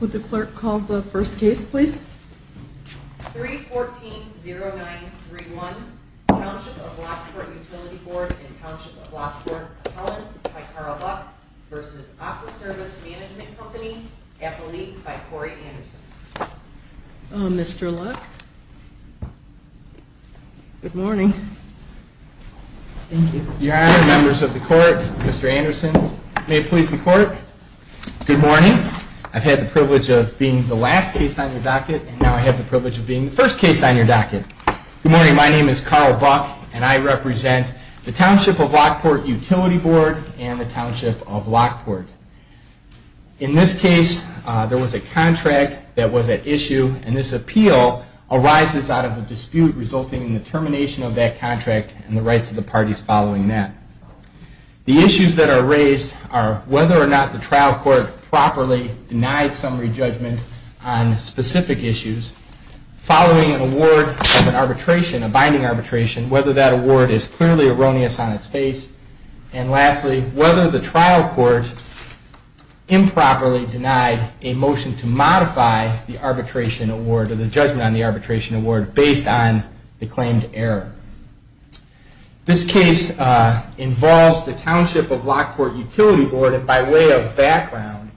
Would the clerk call the first case, please? 3-14-09-31 Township of Lockport Utility Board and Township of Lockport Appellants by Carl Luck v. Aqua Service Management Company, Appellee by Corey Anderson. Mr. Luck? Good morning. Thank you. Your honor, members of the court, Mr. Anderson, may it please the court, good morning. I've had the privilege of being the last case on your docket, and now I have the privilege of being the first case on your docket. Good morning. My name is Carl Buck, and I represent the Township of Lockport Utility Board and the Township of Lockport. In this case, there was a contract that was at issue, and this appeal arises out of a dispute resulting in the termination of that contract and the rights of the parties following that. The issues that are raised are whether or not the trial court properly denied summary judgment on specific issues, following an award of an arbitration, a binding arbitration, whether that award is clearly erroneous on its face, and lastly, whether the trial court improperly denied a motion to modify the arbitration award or the judgment on the arbitration award based on the This case involves the Township of Lockport Utility Board, and by way of background,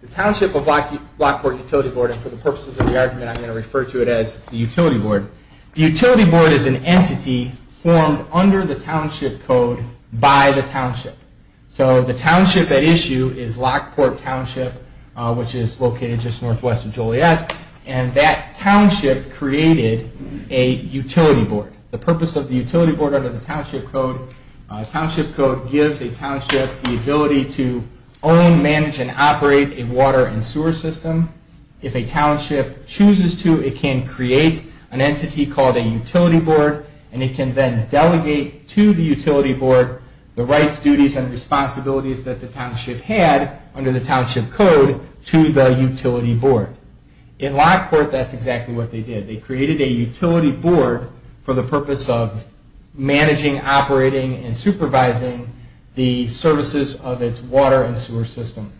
the Township of Lockport Utility Board, and for the purposes of the argument, I'm going to refer to it as the utility board, the utility board is an entity formed under the township code by the township. So the township at issue is Lockport Township, which is located just northwest of Joliet, and that township created a utility board. The purpose of the utility board under the township code, township code gives a township the ability to own, manage, and operate a water and sewer system. If a township chooses to, it can create an entity called a utility board, and it can then delegate to the utility board the rights, duties, and responsibilities that the township had under the township code to the utility board. In Lockport, that's exactly what they did. They created a utility board for the purpose of managing, operating, and supervising the services of its water and sewer system.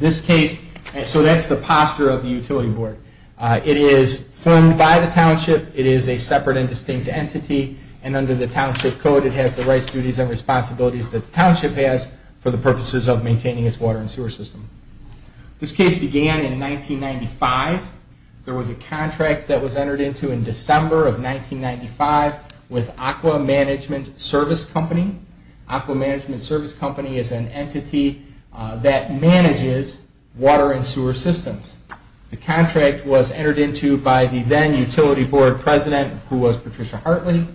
So that's the posture of the utility board. It is formed by the township, it is a separate and distinct entity, and under the township code it has the rights, duties, and responsibilities that the township has for the purposes of maintaining its water and sewer system. This case began in 1995. There was a contract that was entered into in December of 1995 with Aqua Management Service Company. Aqua Management Service Company is an entity that manages water and sewer systems. The contract was entered into by the then utility board president, who was Patricia Hartley.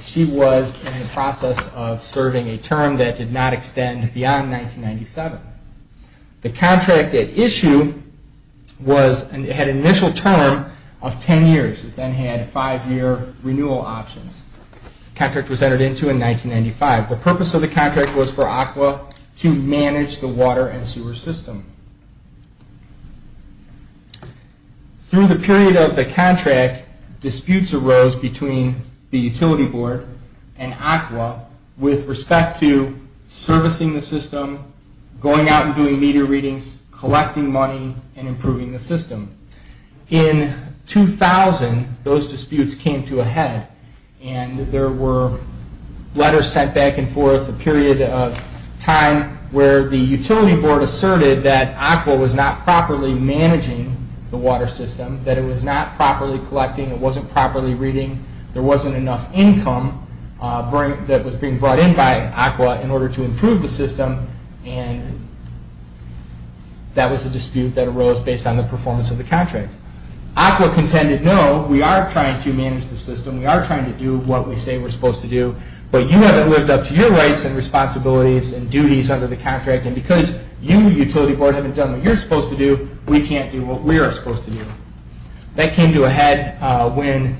She was in the process of serving a term that did not extend beyond 1997. The contract at issue had an initial term of ten years. It then had five year renewal options. The contract was entered into in 1995. The purpose of the contract was for Aqua to manage the water and sewer system. Through the period of the contract, disputes arose between the utility board and Aqua with respect to servicing the system, going out and doing meter readings, collecting money, and improving the system. In 2000, those disputes came to a head and there were letters sent back and forth, a period of time where the utility board asserted that Aqua was not properly managing the water system, that it was not properly collecting, it wasn't properly reading, there wasn't enough income that was being brought in by Aqua in order to improve the system. That was a dispute that arose based on the performance of the contract. Aqua contended, no, we are trying to manage the system, we are trying to do what we say we're supposed to do, but you haven't lived up to your rights and responsibilities and duties under the contract and because you, utility board, haven't done what you're supposed to do, we can't do what we are supposed to do. That came to a head when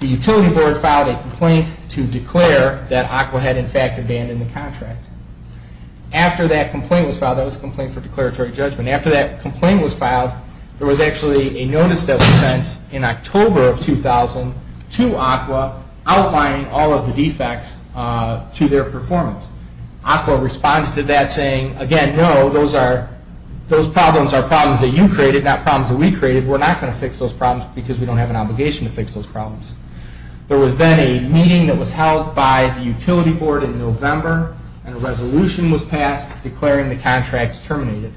the utility board filed a complaint to declare that Aqua had in fact abandoned the contract. After that complaint was filed, that was a complaint for declaratory judgment, after that complaint was filed, there was actually a notice that was sent in October of 2000 to Aqua outlining all of the defects to their performance. Aqua responded to that saying, again, no, those problems are problems that you created, not problems that we created, we're not going to fix those problems because we don't have an obligation to fix those problems. There was then a meeting that was held by the utility board in November and a resolution was passed declaring the contract terminated.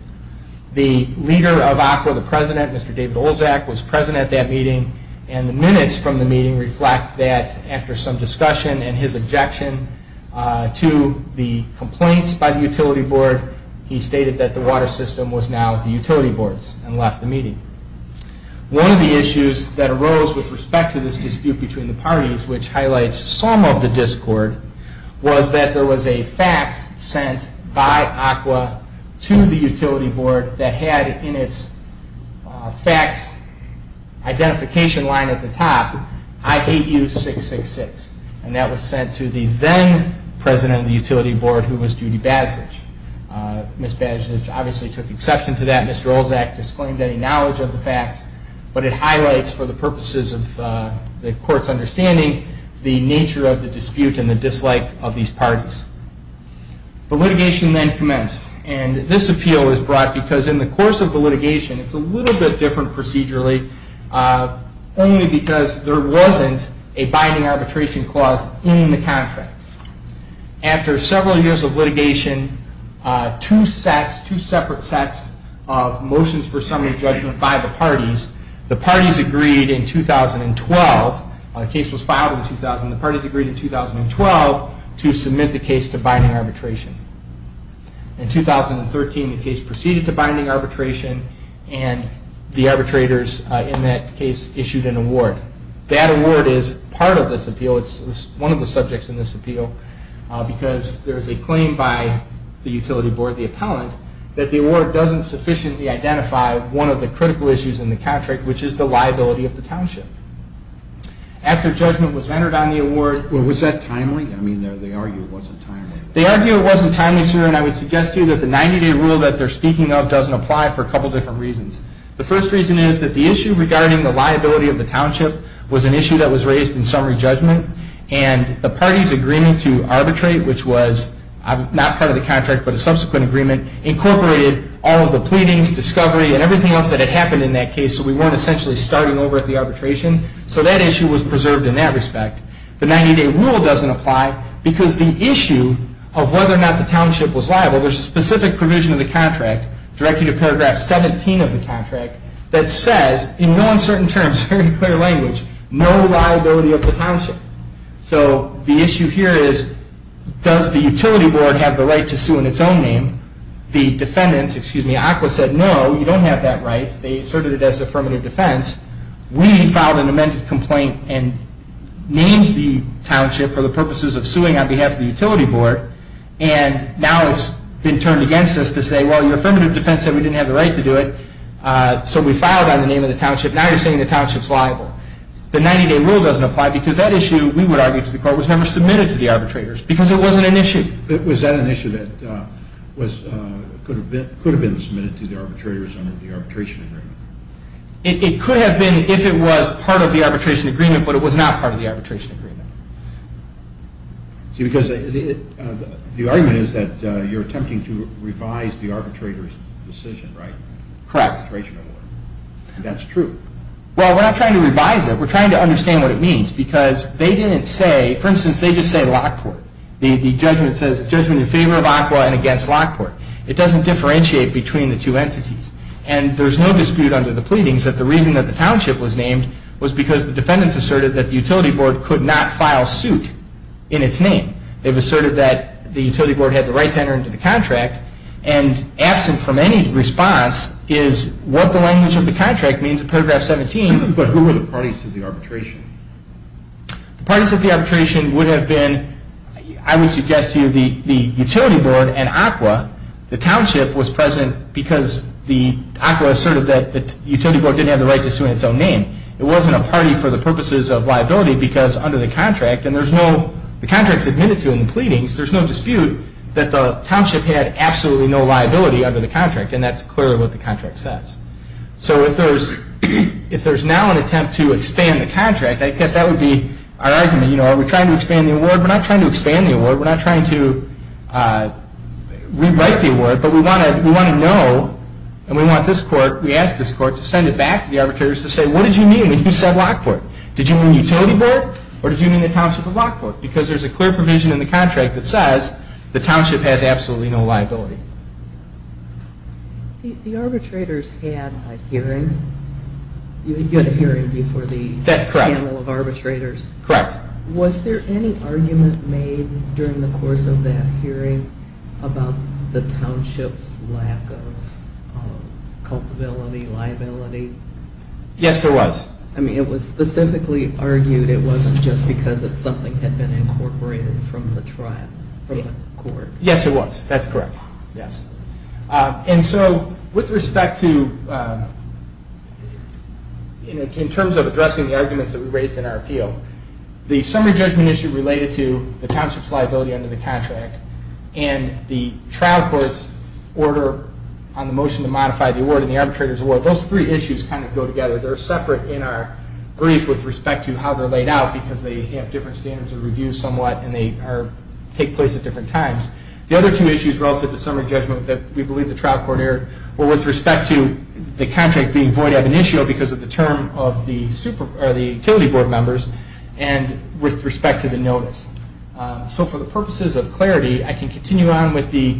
The leader of Aqua, the president, Mr. David Olzak, was president at that meeting and the minutes from the meeting reflect that after some discussion and his objection to the complaints by the utility board, he stated that the water system was now the utility board's and left the meeting. One of the issues that arose with respect to this dispute between the parties, which highlights some of the discord, was that there was a fax sent by Aqua to the utility board that had in its fax identification line at the top, I hate you 666, and that was sent to the then president of the utility board, who was Judy Badzich. Ms. Badzich obviously took exception to that, Mr. Olzak disclaimed any knowledge of the fax, but it highlights for the purposes of the court's understanding the nature of the dispute and the dislike of these parties. The litigation then commenced and this appeal was brought because in the course of the litigation, it's a little bit different procedurally, only because there wasn't a binding arbitration clause in the contract. After several years of litigation, two separate sets of motions for summary judgment by the parties, the parties agreed in 2012, the case was filed in 2000, the parties agreed in 2012 to submit the case to binding arbitration. In 2013, the case proceeded to binding arbitration and the arbitrators in that case issued an award. That award is part of this appeal, it's one of the subjects in this appeal, because there's a claim by the utility board, the appellant, that the award doesn't sufficiently identify one of the critical issues in the contract, which is the liability of the township. After judgment was entered on the award... Well, was that timely? I mean, they argue it wasn't timely. They argue it wasn't timely, sir, and I would suggest to you that the 90-day rule that they're speaking of doesn't apply for a couple different reasons. The first reason is that the issue regarding the liability of the township was an issue that was raised in summary judgment, and the parties' agreement to arbitrate, which was not part of the contract but a subsequent agreement, incorporated all of the pleadings, discovery, and everything else that had happened in that case, so we weren't essentially starting over at the arbitration, so that issue was preserved in that respect. The 90-day rule doesn't apply because the issue of whether or not the township was liable, there's a specific provision of the contract, directed to paragraph 17 of the contract, that says, in no uncertain terms, very clear language, no liability of the township. So the issue here is, does the utility board have the right to sue in its own name? The defendants, excuse me, ACWA said, no, you don't have that right. They asserted it as affirmative defense. We filed an amended complaint and named the township for the purposes of suing on behalf of the utility board, and now it's been turned against us to say, well, your affirmative defense said we didn't have the right to do it, so we filed on the name of the township. Now you're saying the township's liable. The 90-day rule doesn't apply because that issue, we would argue to the court, was never submitted to the arbitrators because it wasn't an issue. Was that an issue that could have been submitted to the arbitrators under the arbitration agreement? It could have been if it was part of the arbitration agreement, but it was not part of the arbitration agreement. See, because the argument is that you're attempting to revise the arbitrator's decision, right? Correct. That's true. Well, we're not trying to revise it. We're trying to understand what it means because they didn't say, for instance, they just say Lockport. The judgment says, judgment in favor of ACWA and against Lockport. It doesn't differentiate between the two entities, and there's no dispute under the pleadings that the reason that the township was named was because the defendants asserted that the utility board could not file suit in its name. They've asserted that the utility board had the right to enter into the contract, and absent from any response is what the language of the contract means in paragraph 17. But who were the parties to the arbitration? The parties to the arbitration would have been, I would suggest to you, the utility board and ACWA. The township was present because the ACWA asserted that the utility board didn't have the right to sue in its own name. It wasn't a party for the purposes of liability because under the contract, and the contract is admitted to in the pleadings, there's no dispute that the township had absolutely no liability under the contract, and that's clearly what the contract says. So if there's now an attempt to expand the contract, I guess that would be our argument. Are we trying to expand the award? We're not trying to expand the award. We're not trying to rewrite the award, but we want to know, and we want this court, to send it back to the arbitrators to say, what did you mean when you said Lockport? Did you mean utility board, or did you mean the township of Lockport? Because there's a clear provision in the contract that says the township has absolutely no liability. The arbitrators had a hearing. You had a hearing before the panel of arbitrators. That's correct. Was there any argument made during the course of that hearing about the township's lack of culpability, liability? Yes, there was. I mean, it was specifically argued it wasn't just because something had been incorporated from the court. Yes, it was. That's correct. With respect to, in terms of addressing the arguments that we raised in our appeal, the summary judgment issue related to the township's liability under the contract and the trial court's order on the motion to modify the award and the arbitrator's award, those three issues kind of go together. They're separate in our brief with respect to how they're laid out because they have different standards of review somewhat and they take place at different times. The other two issues relative to the summary judgment that we believe the trial court erred were with respect to the contract being void of an issue because of the term of the utility board members and with respect to the notice. So for the purposes of clarity, I can continue on with the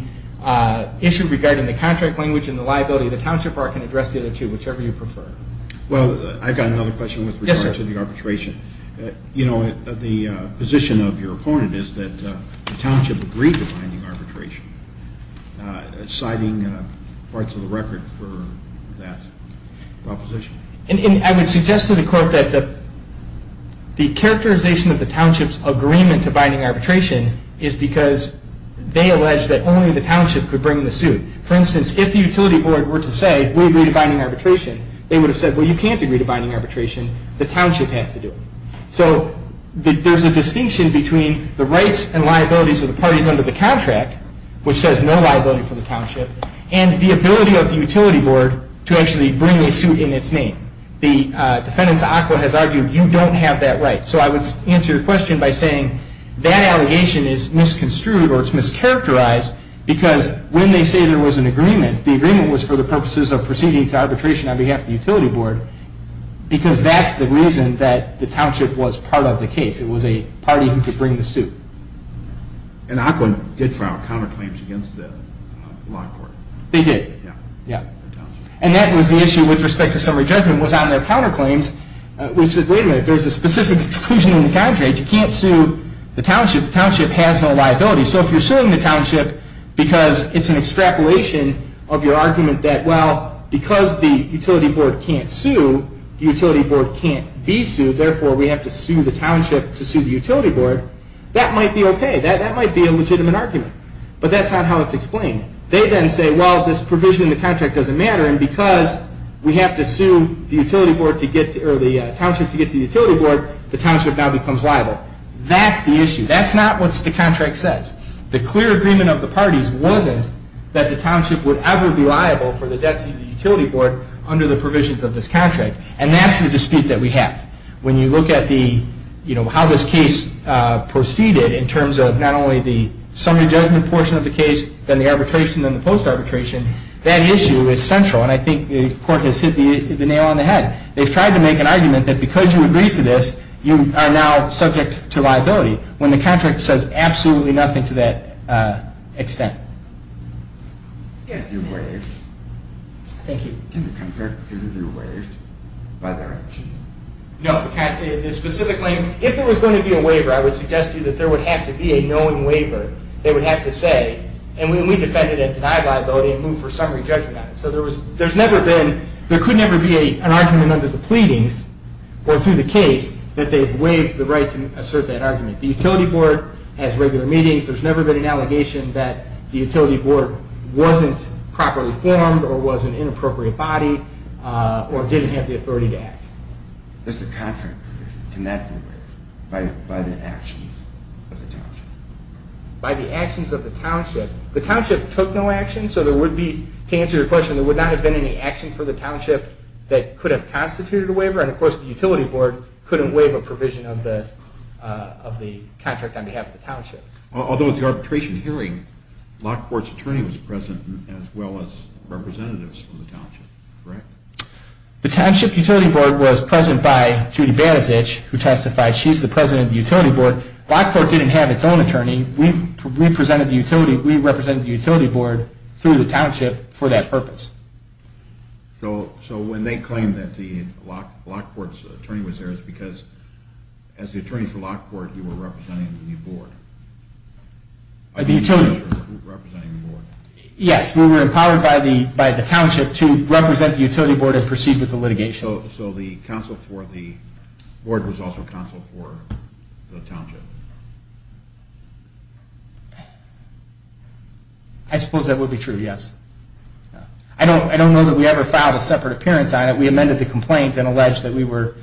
issue regarding the contract language and the liability. The township can address the other two, whichever you prefer. Well, I've got another question with regard to the arbitration. The position of your opponent is that the township agreed to binding arbitration. Citing parts of the record for that proposition? I would suggest to the court that the characterization of the township's agreement to binding arbitration is because they allege that only the township could bring the suit. For instance, if the utility board were to say, we agree to binding arbitration, they would have said, well, you can't agree to binding arbitration. The township has to do it. So there's a distinction between the rights and liabilities of the parties under the contract, which says no liability for the township, and the ability of the utility board to actually bring a suit in its name. The defendant's ACWA has argued you don't have that right. So I would answer your question by saying that allegation is misconstrued The agreement was for the purposes of proceeding to arbitration on behalf of the utility board because that's the reason that the township was part of the case. It was a party who could bring the suit. And ACWA did file counterclaims against the law court. They did. And that was the issue with respect to summary judgment was on their counterclaims. We said, wait a minute, there's a specific exclusion in the contract. You can't sue the township. The township has no liability. So if you're suing the township because it's an extrapolation of your argument that, well, because the utility board can't sue, the utility board can't be sued, therefore we have to sue the township to sue the utility board, that might be okay. That might be a legitimate argument. But that's not how it's explained. They then say, well, this provision in the contract doesn't matter, and because we have to sue the township to get to the utility board, the township now becomes liable. That's the issue. That's not what the contract says. The clear agreement of the parties wasn't that the township would ever be liable for the debts of the utility board under the provisions of this contract. And that's the dispute that we have. When you look at how this case proceeded in terms of not only the summary judgment portion of the case, then the arbitration, then the post-arbitration, that issue is central. And I think the court has hit the nail on the head. They've tried to make an argument that because you agreed to this, you are now subject to liability. When the contract says absolutely nothing to that extent. Can the contract be waived by their actions? No. Specifically, if there was going to be a waiver, I would suggest to you that there would have to be a knowing waiver. They would have to say, and we defended a denied liability and moved for summary judgment on it. So there could never be an argument under the pleadings or through the case that they've waived the right to assert that argument. The utility board has regular meetings. There's never been an allegation that the utility board wasn't properly formed or was an inappropriate body or didn't have the authority to act. Does the contract, can that be waived by the actions of the township? By the actions of the township. The township took no action, so there would be, to answer your question, there would not have been any action for the township that could have constituted a waiver. And, of course, the utility board couldn't waive a provision of the contract on behalf of the township. Although at the arbitration hearing, Lockport's attorney was present as well as representatives from the township, correct? The township utility board was present by Judy Banasich, who testified. She's the president of the utility board. Lockport didn't have its own attorney. We represented the utility board through the township for that purpose. So when they claimed that Lockport's attorney was there, it's because as the attorney for Lockport, you were representing the board. Yes, we were empowered by the township to represent the utility board and proceed with the litigation. So the board was also counsel for the township. I suppose that would be true, yes. I don't know that we ever filed a separate appearance on it. We amended the complaint and alleged that we were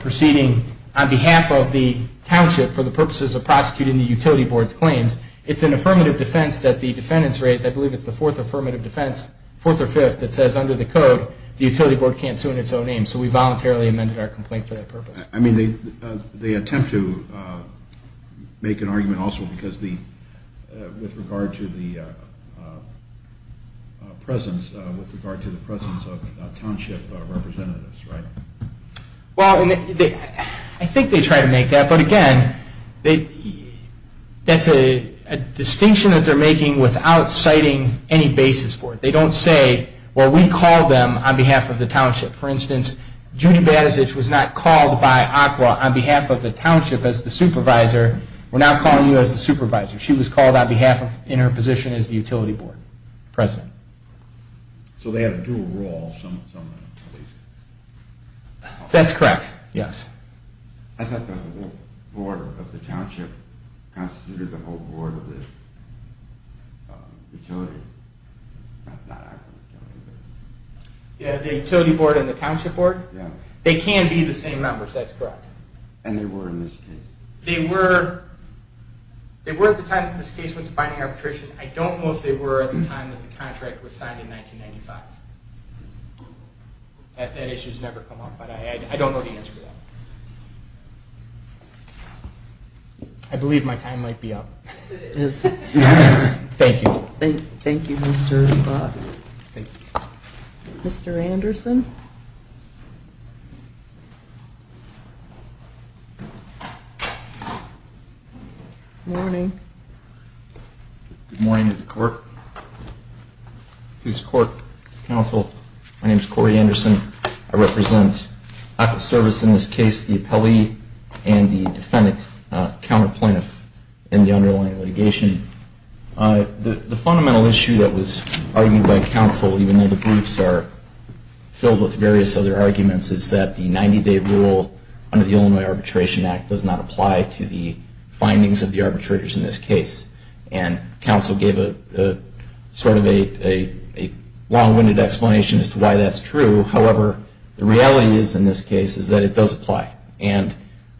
proceeding on behalf of the township for the purposes of prosecuting the utility board's claims. It's an affirmative defense that the defendants raised. I believe it's the fourth affirmative defense, fourth or fifth, that says under the code the utility board can't sue in its own name. So we voluntarily amended our complaint for that purpose. I mean, they attempt to make an argument also with regard to the presence of township representatives, right? Well, I think they try to make that. But again, that's a distinction that they're making without citing any basis for it. They don't say, well, we called them on behalf of the township. For instance, Judy Badesich was not called by ACWA on behalf of the township as the supervisor. We're now calling you as the supervisor. She was called on behalf of, in her position as the utility board president. So they have a dual role, some in the police department. That's correct, yes. I thought the board of the township constituted the whole board of the utility, not ACWA utility. Yeah, the utility board and the township board? Yeah. They can be the same members. That's correct. And they were in this case. They were. They were at the time that this case went to binding arbitration. I don't know if they were at the time that the contract was signed in 1995. That issue has never come up. But I don't know the answer to that. I believe my time might be up. It is. Thank you. Thank you, Mr. Anderson. Good morning. Good morning to the court, police court, council. My name is Corey Anderson. I represent active service in this case, the appellee and the defendant, counter plaintiff in the underlying litigation. The fundamental issue that was argued by counsel, even though the briefs are filled with various other arguments, is that the 90-day rule under the Illinois Arbitration Act does not apply to the findings of the arbitrators in this case. And counsel gave sort of a long-winded explanation as to why that's true. However, the reality is in this case is that it does apply. And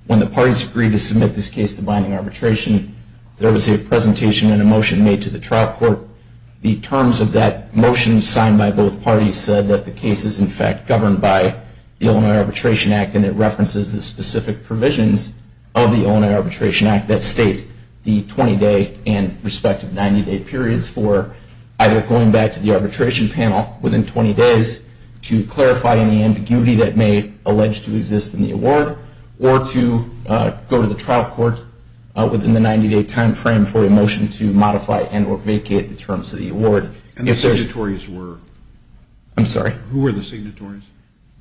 when the parties agreed to submit this case to binding arbitration, there was a presentation and a motion made to the trial court. The terms of that motion signed by both parties said that the case is, in fact, governed by the Illinois Arbitration Act. And it references the specific provisions of the Illinois Arbitration Act that state the 20-day and respective 90-day periods for either going back to the arbitration panel within 20 days to clarify any ambiguity that may allege to exist in the award, or to go to the trial court within the 90-day timeframe for a motion to modify and or vacate the terms of the award. And the signatories were? I'm sorry? Who were the signatories?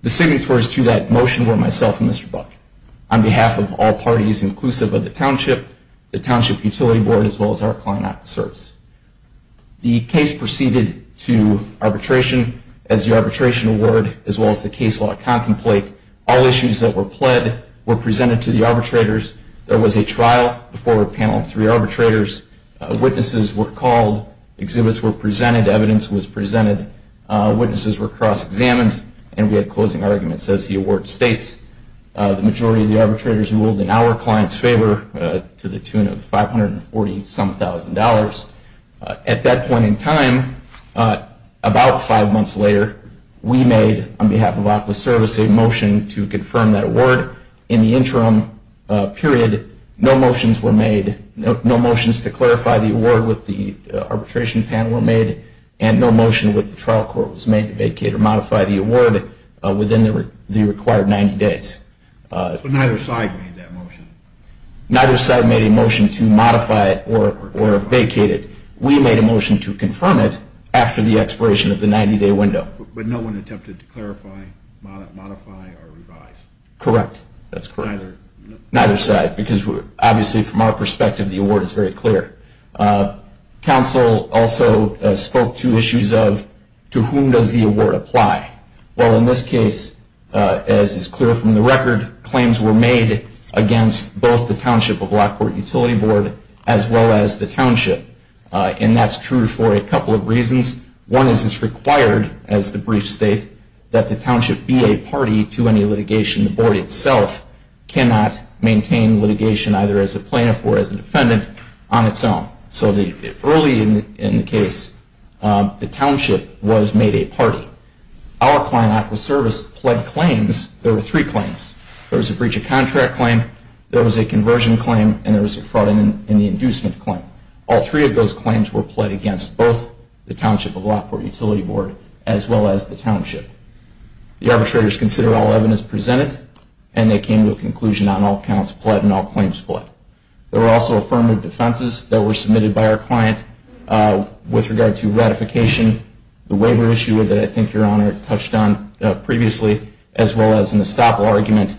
The signatories to that motion were myself and Mr. Buck. On behalf of all parties, inclusive of the township, the Township Utility Board, as well as our client, Act of Service. The case proceeded to arbitration as the arbitration award, as well as the case law contemplate. All issues that were pled were presented to the arbitrators. There was a trial before a panel of three arbitrators. Witnesses were called. Exhibits were presented. Evidence was presented. Witnesses were cross-examined. And we had closing arguments as the award states. The majority of the arbitrators ruled in our client's favor to the tune of $540-some-thousand. At that point in time, about five months later, we made, on behalf of Act of Service, a motion to confirm that award. In the interim period, no motions were made, no motions to clarify the award with the arbitration panel were made, and no motion with the trial court was made to vacate or modify the award within the required 90 days. So neither side made that motion? Neither side made a motion to modify it or vacate it. We made a motion to confirm it after the expiration of the 90-day window. But no one attempted to clarify, modify, or revise? Correct. That's correct. Neither side. Because, obviously, from our perspective, the award is very clear. Council also spoke to issues of to whom does the award apply. Well, in this case, as is clear from the record, claims were made against both the Township of Blackport Utility Board as well as the Township. And that's true for a couple of reasons. One is it's required, as the brief state, that the township be a party to any litigation. The board itself cannot maintain litigation either as a plaintiff or as a defendant on its own. So early in the case, the township was made a party. Our client, Act of Service, pled claims. There were three claims. There was a breach of contract claim, there was a conversion claim, and there was a fraud in the inducement claim. All three of those claims were pled against both the Township of Blackport Utility Board as well as the Township. The arbitrators consider all evidence presented, and they came to a conclusion on all counts pled and all claims pled. There were also affirmative defenses that were submitted by our client with regard to ratification, the waiver issue that I think Your Honor touched on previously, as well as an estoppel argument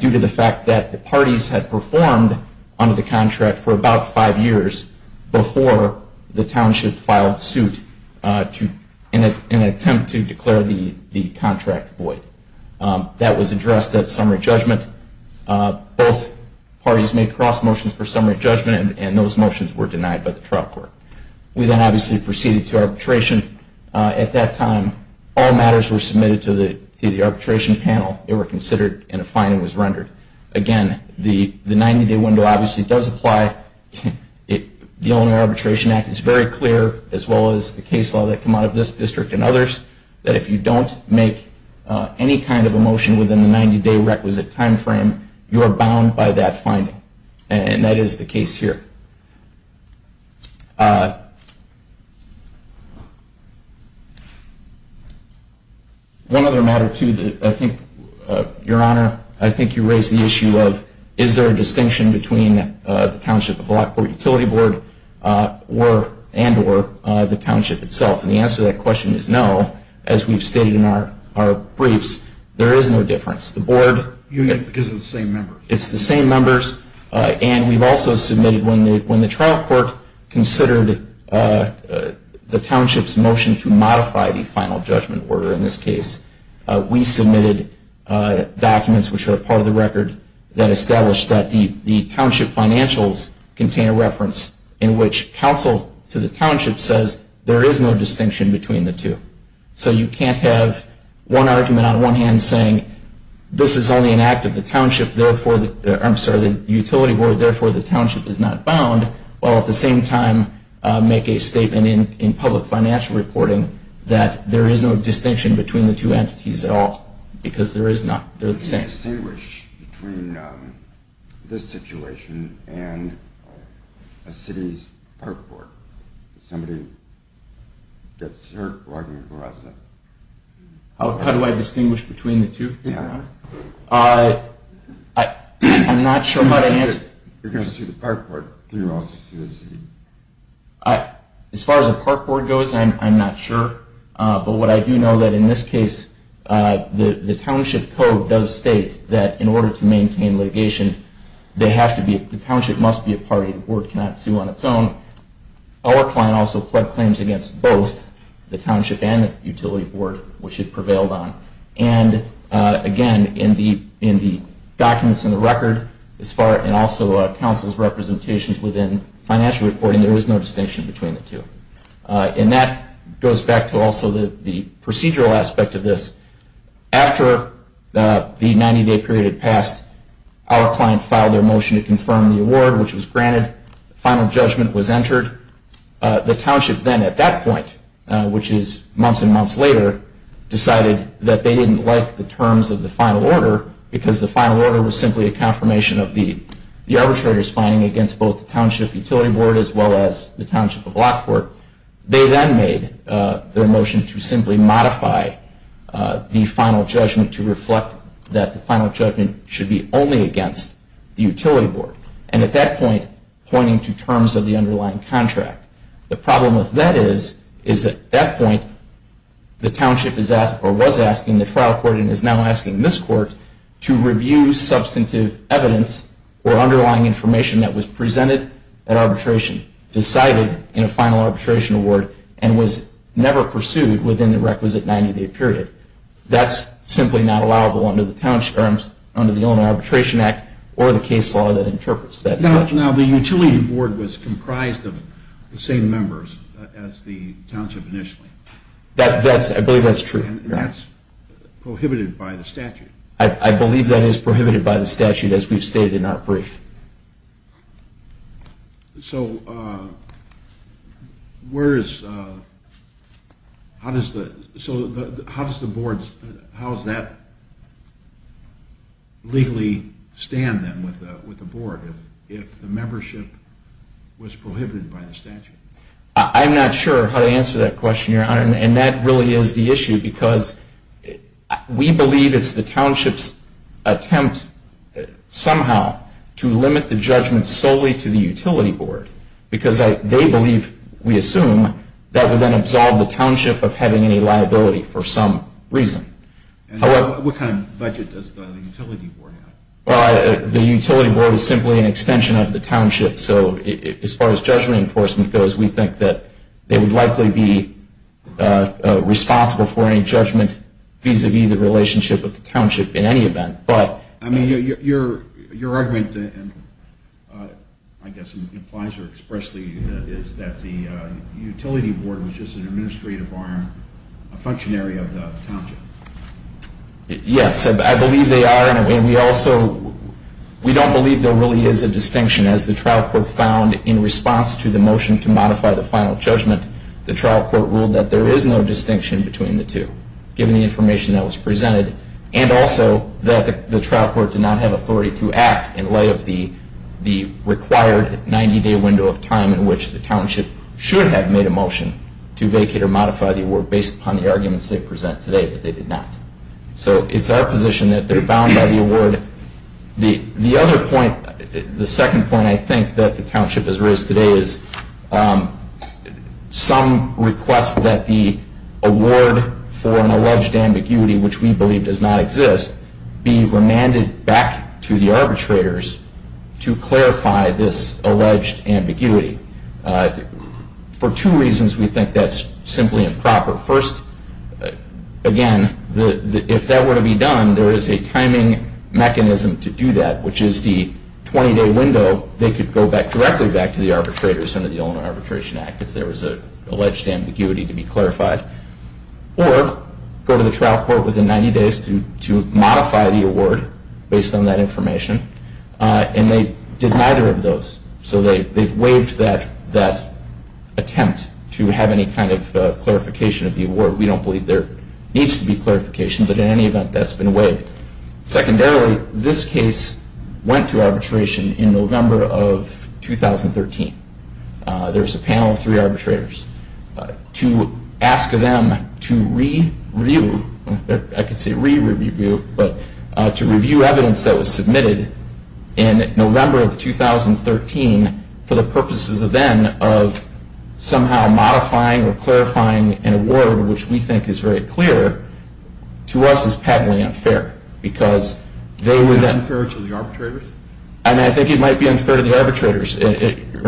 due to the fact that the parties had performed under the contract for about five years before the township filed suit in an attempt to declare the contract void. That was addressed at summary judgment. Both parties made cross motions for summary judgment, and those motions were denied by the trial court. We then obviously proceeded to arbitration. At that time, all matters were submitted to the arbitration panel. They were considered, and a finding was rendered. Again, the 90-day window obviously does apply. The Owner Arbitration Act is very clear, as well as the case law that came out of this district and others, that if you don't make any kind of a motion within the 90-day requisite time frame, you are bound by that finding. And that is the case here. One other matter, too, that I think, Your Honor, I think you raised the issue of is there a distinction between the township of Lockport Utility Board and or the township itself. And the answer to that question is no. As we've stated in our briefs, there is no difference. The board union is the same members. It's the same members. And we've also submitted, when the trial court considered the township's motion to modify the final judgment order in this case, we submitted documents which are part of the record that established that the township financials contain a reference in which counsel to the township says there is no distinction between the two. So you can't have one argument on one hand saying this is only an act of the utility board, therefore the township is not bound, while at the same time make a statement in public financial reporting that there is no distinction between the two entities at all because they're the same. How do you distinguish between this situation and a city's park board? Somebody gets hurt arguing for us. How do I distinguish between the two? Yeah. I'm not sure how to answer. You're going to sue the park board. As far as the park board goes, I'm not sure. But what I do know that in this case the township code does state that in order to maintain litigation, the township must be a party. The board cannot sue on its own. Our client also pled claims against both the township and the utility board, which it prevailed on. And, again, in the documents in the record and also council's representations within financial reporting, there is no distinction between the two. And that goes back to also the procedural aspect of this. After the 90-day period had passed, our client filed their motion to confirm the award, which was granted. The final judgment was entered. The township then at that point, which is months and months later, decided that they didn't like the terms of the final order because the final order was simply a confirmation of the arbitrator's finding against both the township utility board as well as the township of Lockport. They then made their motion to simply modify the final judgment to reflect that the final judgment should be only against the utility board, and at that point pointing to terms of the underlying contract. The problem with that is that at that point the township was asking the trial court and is now asking this court to review substantive evidence or underlying information that was presented at arbitration, decided in a final arbitration award, and was never pursued within the requisite 90-day period. That's simply not allowable under the Illinois Arbitration Act or the case law that interprets that. Now the utility board was comprised of the same members as the township initially. I believe that's true. And that's prohibited by the statute. I believe that is prohibited by the statute as we've stated in our brief. So how does that legally stand then with the board if the membership was prohibited by the statute? I'm not sure how to answer that question, Your Honor, and that really is the issue because we believe it's the township's attempt somehow to limit the judgment solely to the utility board because they believe, we assume, that would then absolve the township of having any liability for some reason. What kind of budget does the utility board have? The utility board is simply an extension of the township. So as far as judgment enforcement goes, we think that they would likely be responsible for any judgment vis-a-vis the relationship with the township in any event. I mean, your argument, I guess, implies or expressly is that the utility board was just an administrative arm, a functionary of the township. Yes, I believe they are. And we don't believe there really is a distinction. As the trial court found in response to the motion to modify the final judgment, the trial court ruled that there is no distinction between the two, given the information that was presented, and also that the trial court did not have authority to act in light of the required 90-day window of time in which the township should have made a motion to vacate or modify the award based upon the arguments they present today, but they did not. So it's our position that they're bound by the award. The other point, the second point, I think, that the township has raised today is some request that the award for an arbitration does not exist be remanded back to the arbitrators to clarify this alleged ambiguity. For two reasons we think that's simply improper. First, again, if that were to be done, there is a timing mechanism to do that, which is the 20-day window. They could go directly back to the arbitrators under the Illinois Or go to the trial court within 90 days to modify the award based on that information, and they did neither of those. So they've waived that attempt to have any kind of clarification of the award. We don't believe there needs to be clarification, but in any event, that's been waived. Secondarily, this case went to arbitration in November of 2013. There's a panel of three arbitrators. To ask them to re-review, I can say re-review, but to review evidence that was submitted in November of 2013 for the purposes of then of somehow modifying or clarifying an award, which we think is very clear, to us is patently unfair because they were then. Is that unfair to the arbitrators? I mean, I think it might be unfair to the arbitrators, Your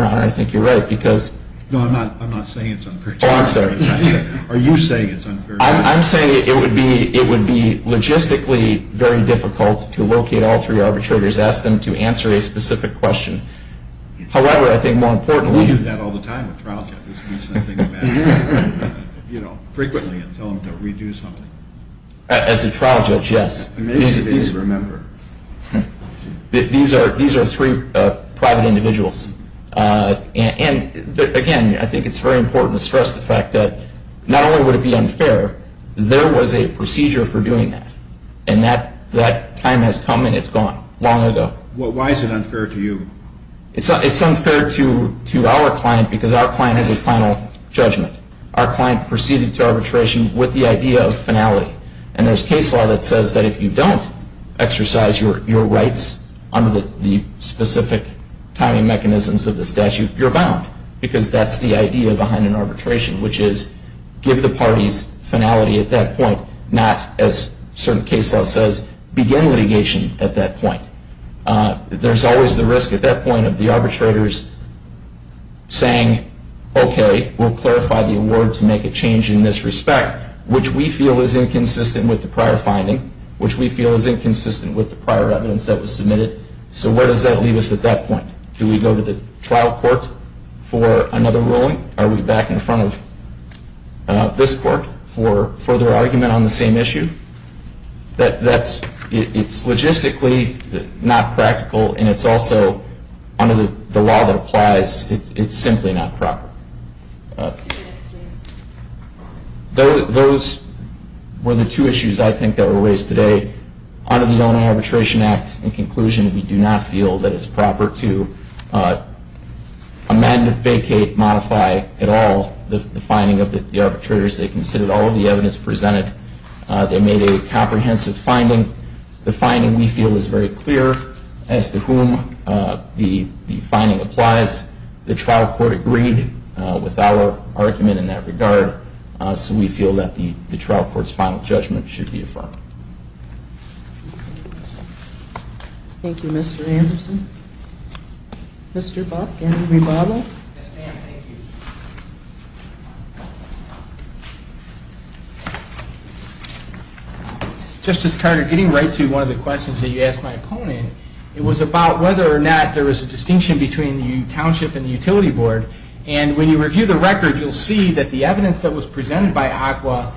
Honor. I think you're right because. No, I'm not saying it's unfair to the arbitrators. Oh, I'm sorry. Are you saying it's unfair to the arbitrators? I'm saying it would be logistically very difficult to locate all three arbitrators, ask them to answer a specific question. However, I think more importantly. We do that all the time with trial judges. I think about it frequently and tell them to re-do something. As a trial judge, yes. These are three private individuals. And, again, I think it's very important to stress the fact that not only would it be unfair, there was a procedure for doing that. And that time has come and it's gone long ago. Why is it unfair to you? It's unfair to our client because our client has a final judgment. Our client proceeded to arbitration with the idea of finality. And there's case law that says that if you don't exercise your rights under the specific timing mechanisms of the statute, you're bound because that's the idea behind an arbitration, which is give the parties finality at that point, not, as certain case law says, begin litigation at that point. There's always the risk at that point of the arbitrators saying, okay, we'll clarify the award to make a change in this respect, which we feel is inconsistent with the prior finding, which we feel is inconsistent with the prior evidence that was submitted. So where does that leave us at that point? Do we go to the trial court for another ruling? Are we back in front of this court for further argument on the same issue? It's logistically not practical and it's also, under the law that applies, it's simply not proper. Those were the two issues, I think, that were raised today. Under the Illinois Arbitration Act, in conclusion, we do not feel that it's proper to amend, vacate, modify at all the finding of the arbitrators. They considered all of the evidence presented. They made a comprehensive finding. The finding, we feel, is very clear as to whom the finding applies. The trial court agreed with our argument in that regard, so we feel that the trial court's final judgment should be affirmed. Thank you, Mr. Anderson. Mr. Buck, any rebuttal? Yes, ma'am. Thank you. Justice Carter, getting right to one of the questions that you asked my opponent, it was about whether or not there was a distinction between the township and the utility board. When you review the record, you'll see that the evidence that was presented by ACWA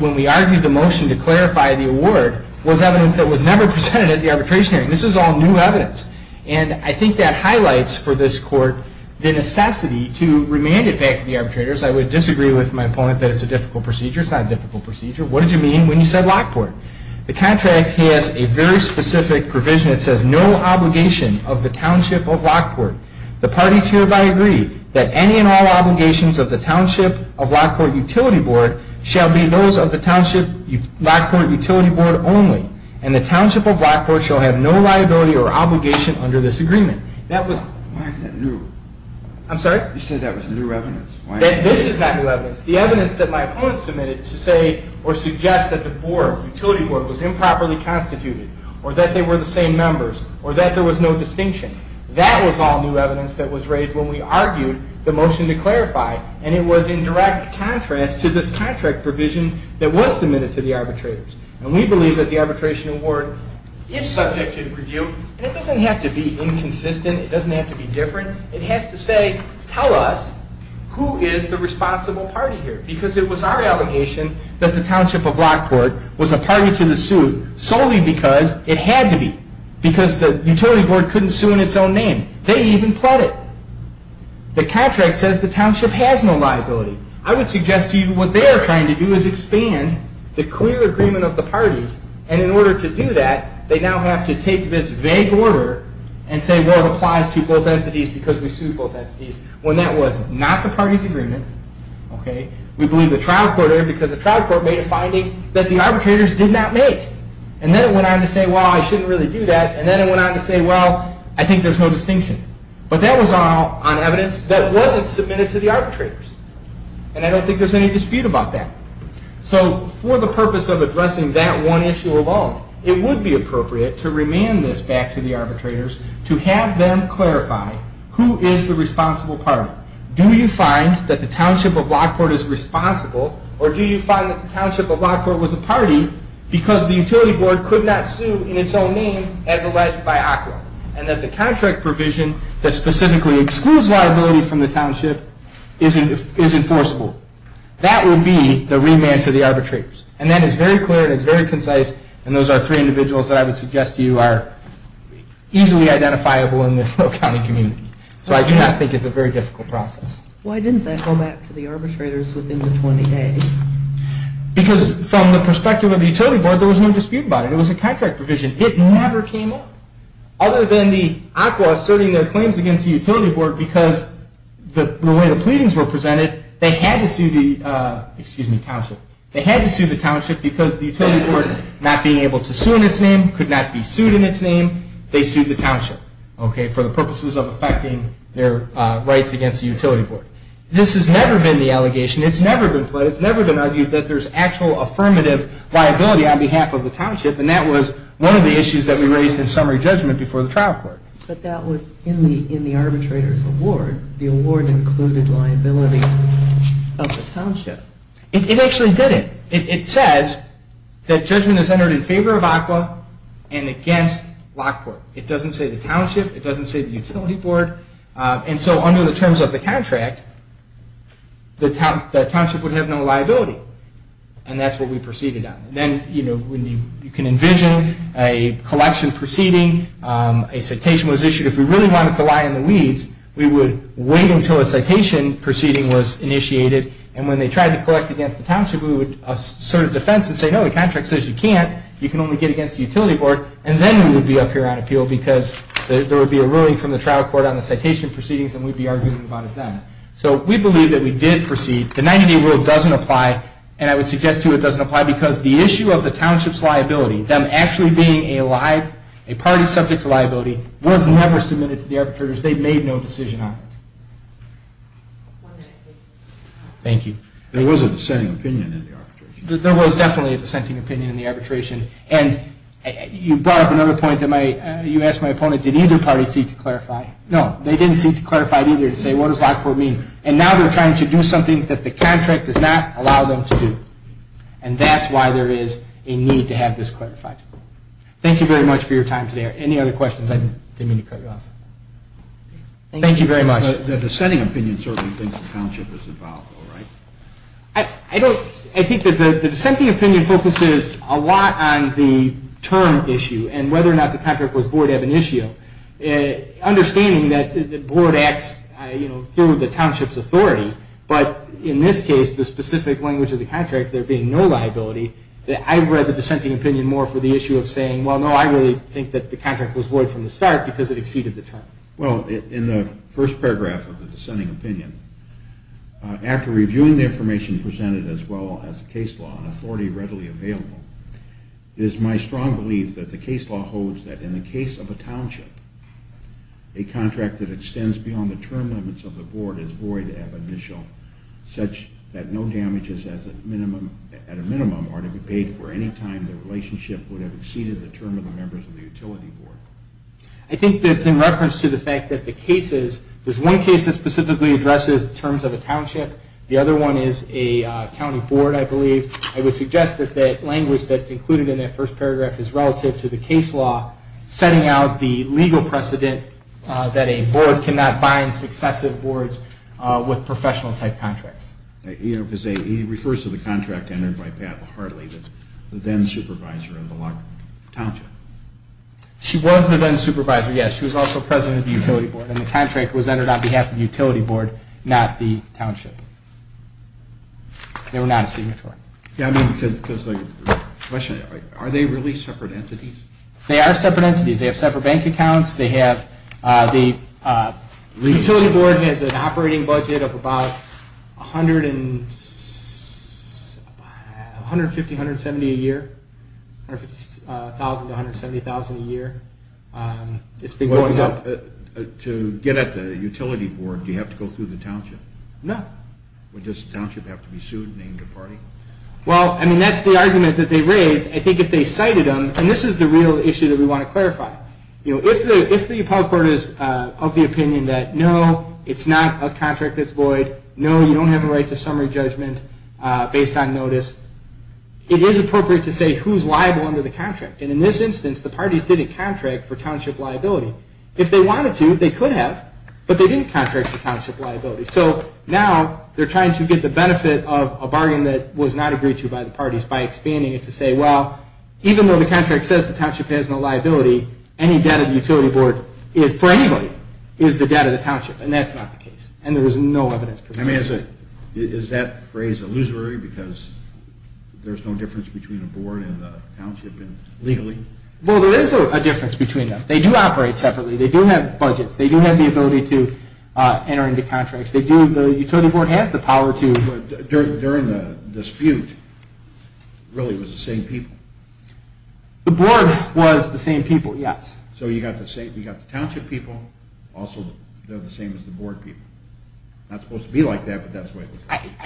when we argued the motion to clarify the award was evidence that was never presented at the arbitration hearing. This was all new evidence. I think that highlights for this court the necessity to remand it back to the arbitrators. I would disagree with my opponent that it's a difficult procedure. It's not a difficult procedure. What did you mean when you said Lockport? The contract has a very specific provision. It says no obligation of the township of Lockport. The parties hereby agree that any and all obligations of the township of Lockport Utility Board shall be those of the township Lockport Utility Board only, and the township of Lockport shall have no liability or obligation under this agreement. Why is that new? I'm sorry? You said that was new evidence. This is not new evidence. The evidence that my opponent submitted to say or suggest that the board, utility board, was improperly constituted, or that they were the same members, or that there was no distinction, that was all new evidence that was raised when we argued the motion to clarify, and it was in direct contrast to this contract provision that was submitted to the arbitrators. And we believe that the arbitration award is subject to review, and it doesn't have to be inconsistent. It doesn't have to be different. It has to say, tell us who is the responsible party here, because it was our allegation that the township of Lockport was a party to the suit solely because it had to be, because the utility board couldn't sue in its own name. They even pled it. The contract says the township has no liability. I would suggest to you what they are trying to do is expand the clear agreement of the parties, and in order to do that, they now have to take this vague order and say, well, it applies to both entities because we sued both entities, when that was not the party's agreement. We believe the trial court erred because the trial court made a finding that the arbitrators did not make. And then it went on to say, well, I shouldn't really do that, and then it went on to say, well, I think there's no distinction. But that was all on evidence that wasn't submitted to the arbitrators, and I don't think there's any dispute about that. So for the purpose of addressing that one issue alone, it would be appropriate to remand this back to the arbitrators to have them clarify who is the responsible party. Do you find that the township of Lockport is responsible, or do you find that the township of Lockport was a party because the utility board could not sue in its own name, as alleged by ACWA, and that the contract provision that specifically excludes liability from the township is enforceable? That would be the remand to the arbitrators. And that is very clear, and it's very concise, and those are three individuals that I would suggest to you are easily identifiable in the county community. So I do not think it's a very difficult process. Why didn't they hold back to the arbitrators within the 20 days? Because from the perspective of the utility board, there was no dispute about it. It was a contract provision. It never came up. Other than the ACWA asserting their claims against the utility board because the way the pleadings were presented, they had to sue the township because the utility board, not being able to sue in its name, could not be sued in its name, they sued the township for the purposes of affecting their rights against the utility board. This has never been the allegation. It's never been pledged. It's never been argued that there's actual affirmative liability on behalf of the township, and that was one of the issues that we raised in summary judgment before the trial court. But that was in the arbitrator's award. The award included liability of the township. It actually did it. It says that judgment is entered in favor of ACWA and against Lockport. It doesn't say the township. It doesn't say the utility board. So under the terms of the contract, the township would have no liability, and that's what we proceeded on. Then you can envision a collection proceeding. A citation was issued. If we really wanted to lie in the weeds, we would wait until a citation proceeding was initiated, and when they tried to collect against the township, we would assert a defense and say, no, the contract says you can't. You can only get against the utility board, and then we would be up here on appeal because there would be a ruling from the trial court on the citation proceedings, and we'd be arguing about it then. So we believe that we did proceed. The 90-day rule doesn't apply, and I would suggest to you it doesn't apply because the issue of the township's liability, them actually being a party subject to liability, was never submitted to the arbitrators. They made no decision on it. Thank you. There was a dissenting opinion in the arbitration. There was definitely a dissenting opinion in the arbitration, and you brought up another point that you asked my opponent. Did either party seek to clarify? No, they didn't seek to clarify either and say what does Lockport mean, and now they're trying to do something that the contract does not allow them to do, and that's why there is a need to have this clarified. Thank you very much for your time today. Are there any other questions I didn't mean to cut you off? Thank you very much. The dissenting opinion certainly thinks the township is involved, though, right? I think that the dissenting opinion focuses a lot on the term issue and whether or not the contract was void ab initio, understanding that the board acts through the township's authority, but in this case, the specific language of the contract, there being no liability, I read the dissenting opinion more for the issue of saying, well, no, I really think that the contract was void from the start because it exceeded the term. Well, in the first paragraph of the dissenting opinion, after reviewing the information presented as well as the case law and authority readily available, it is my strong belief that the case law holds that in the case of a township, a contract that extends beyond the term limits of the board is void ab initio, such that no damages at a minimum are to be paid for any time the relationship would have exceeded the term of the members of the utility board. I think that's in reference to the fact that the cases, there's one case that specifically addresses terms of a township. The other one is a county board, I believe. I would suggest that the language that's included in that first paragraph is relative to the case law setting out the legal precedent that a board cannot bind successive boards with professional type contracts. He refers to the contract entered by Pat Hartley, the then supervisor of the township. She was the then supervisor, yes. She was also president of the utility board and the contract was entered on behalf of the utility board, not the township. They were not a signatory. Yeah, I mean, because the question, are they really separate entities? They are separate entities. They have separate bank accounts. They have the utility board has an operating budget of about 150, 170 a year, 150,000 to 170,000 a year. It's been going up. To get at the utility board, do you have to go through the township? No. Does the township have to be sued, named a party? Well, I mean, that's the argument that they raised. I think if they cited them, and this is the real issue that we want to clarify. If the appellate court is of the opinion that no, it's not a contract that's void, no, you don't have a right to summary judgment based on notice, it is appropriate to say who's liable under the contract. And in this instance, the parties didn't contract for township liability. If they wanted to, they could have, but they didn't contract for township liability. So now they're trying to get the benefit of a bargain that was not agreed to by the parties by expanding it to say, well, even though the contract says the township has no liability, any debt of the utility board for anybody is the debt of the township. And that's not the case. And there was no evidence. I mean, is that phrase illusory because there's no difference between a board and the township legally? Well, there is a difference between them. They do operate separately. They do have budgets. They do have the ability to enter into contracts. The utility board has the power to. During the dispute, really it was the same people. The board was the same people, yes. So you got the township people, also they're the same as the board people. Not supposed to be like that, but that's the way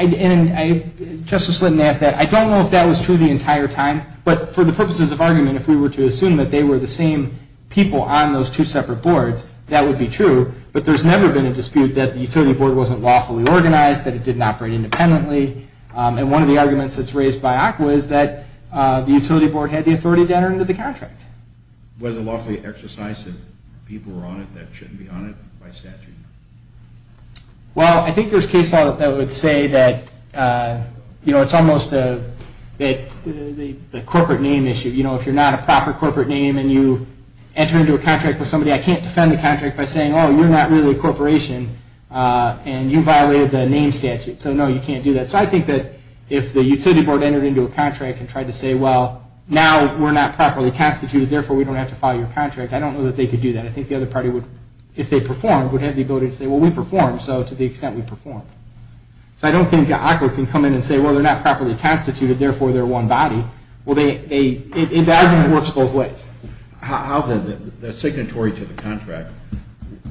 it was. Justice Slytton asked that. I don't know if that was true the entire time. But for the purposes of argument, if we were to assume that they were the same people on those two separate boards, that would be true. But there's never been a dispute that the utility board wasn't lawfully organized, that it didn't operate independently. And one of the arguments that's raised by ACWA is that the utility board had the authority to enter into the contract. Was it lawfully exercised if people were on it that shouldn't be on it by statute? Well, I think there's case law that would say that it's almost the corporate name issue. If you're not a proper corporate name and you enter into a contract with somebody, I can't defend the contract by saying, oh, you're not really a corporation and you violated the name statute. So no, you can't do that. So I think that if the utility board entered into a contract and tried to say, well, now we're not properly constituted, therefore we don't have to follow your contract, I don't know that they could do that. I think the other party, if they performed, would have the ability to say, well, we performed, so to the extent we performed. So I don't think ACWA can come in and say, well, they're not properly constituted, therefore they're one body. Well, the argument works both ways. How the signatory to the contract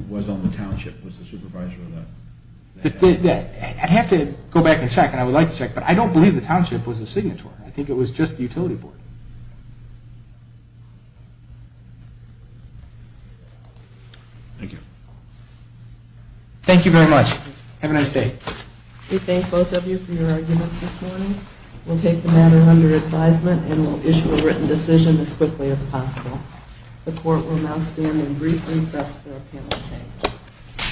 was on the township, was the supervisor of that? I'd have to go back and check, and I would like to check, but I don't believe the township was the signatory. I think it was just the utility board. Thank you. Thank you very much. Have a nice day. We thank both of you for your arguments this morning. We'll take the matter under advisement and we'll issue a written decision as quickly as possible. The court will now stand in brief recess for a panel of 10.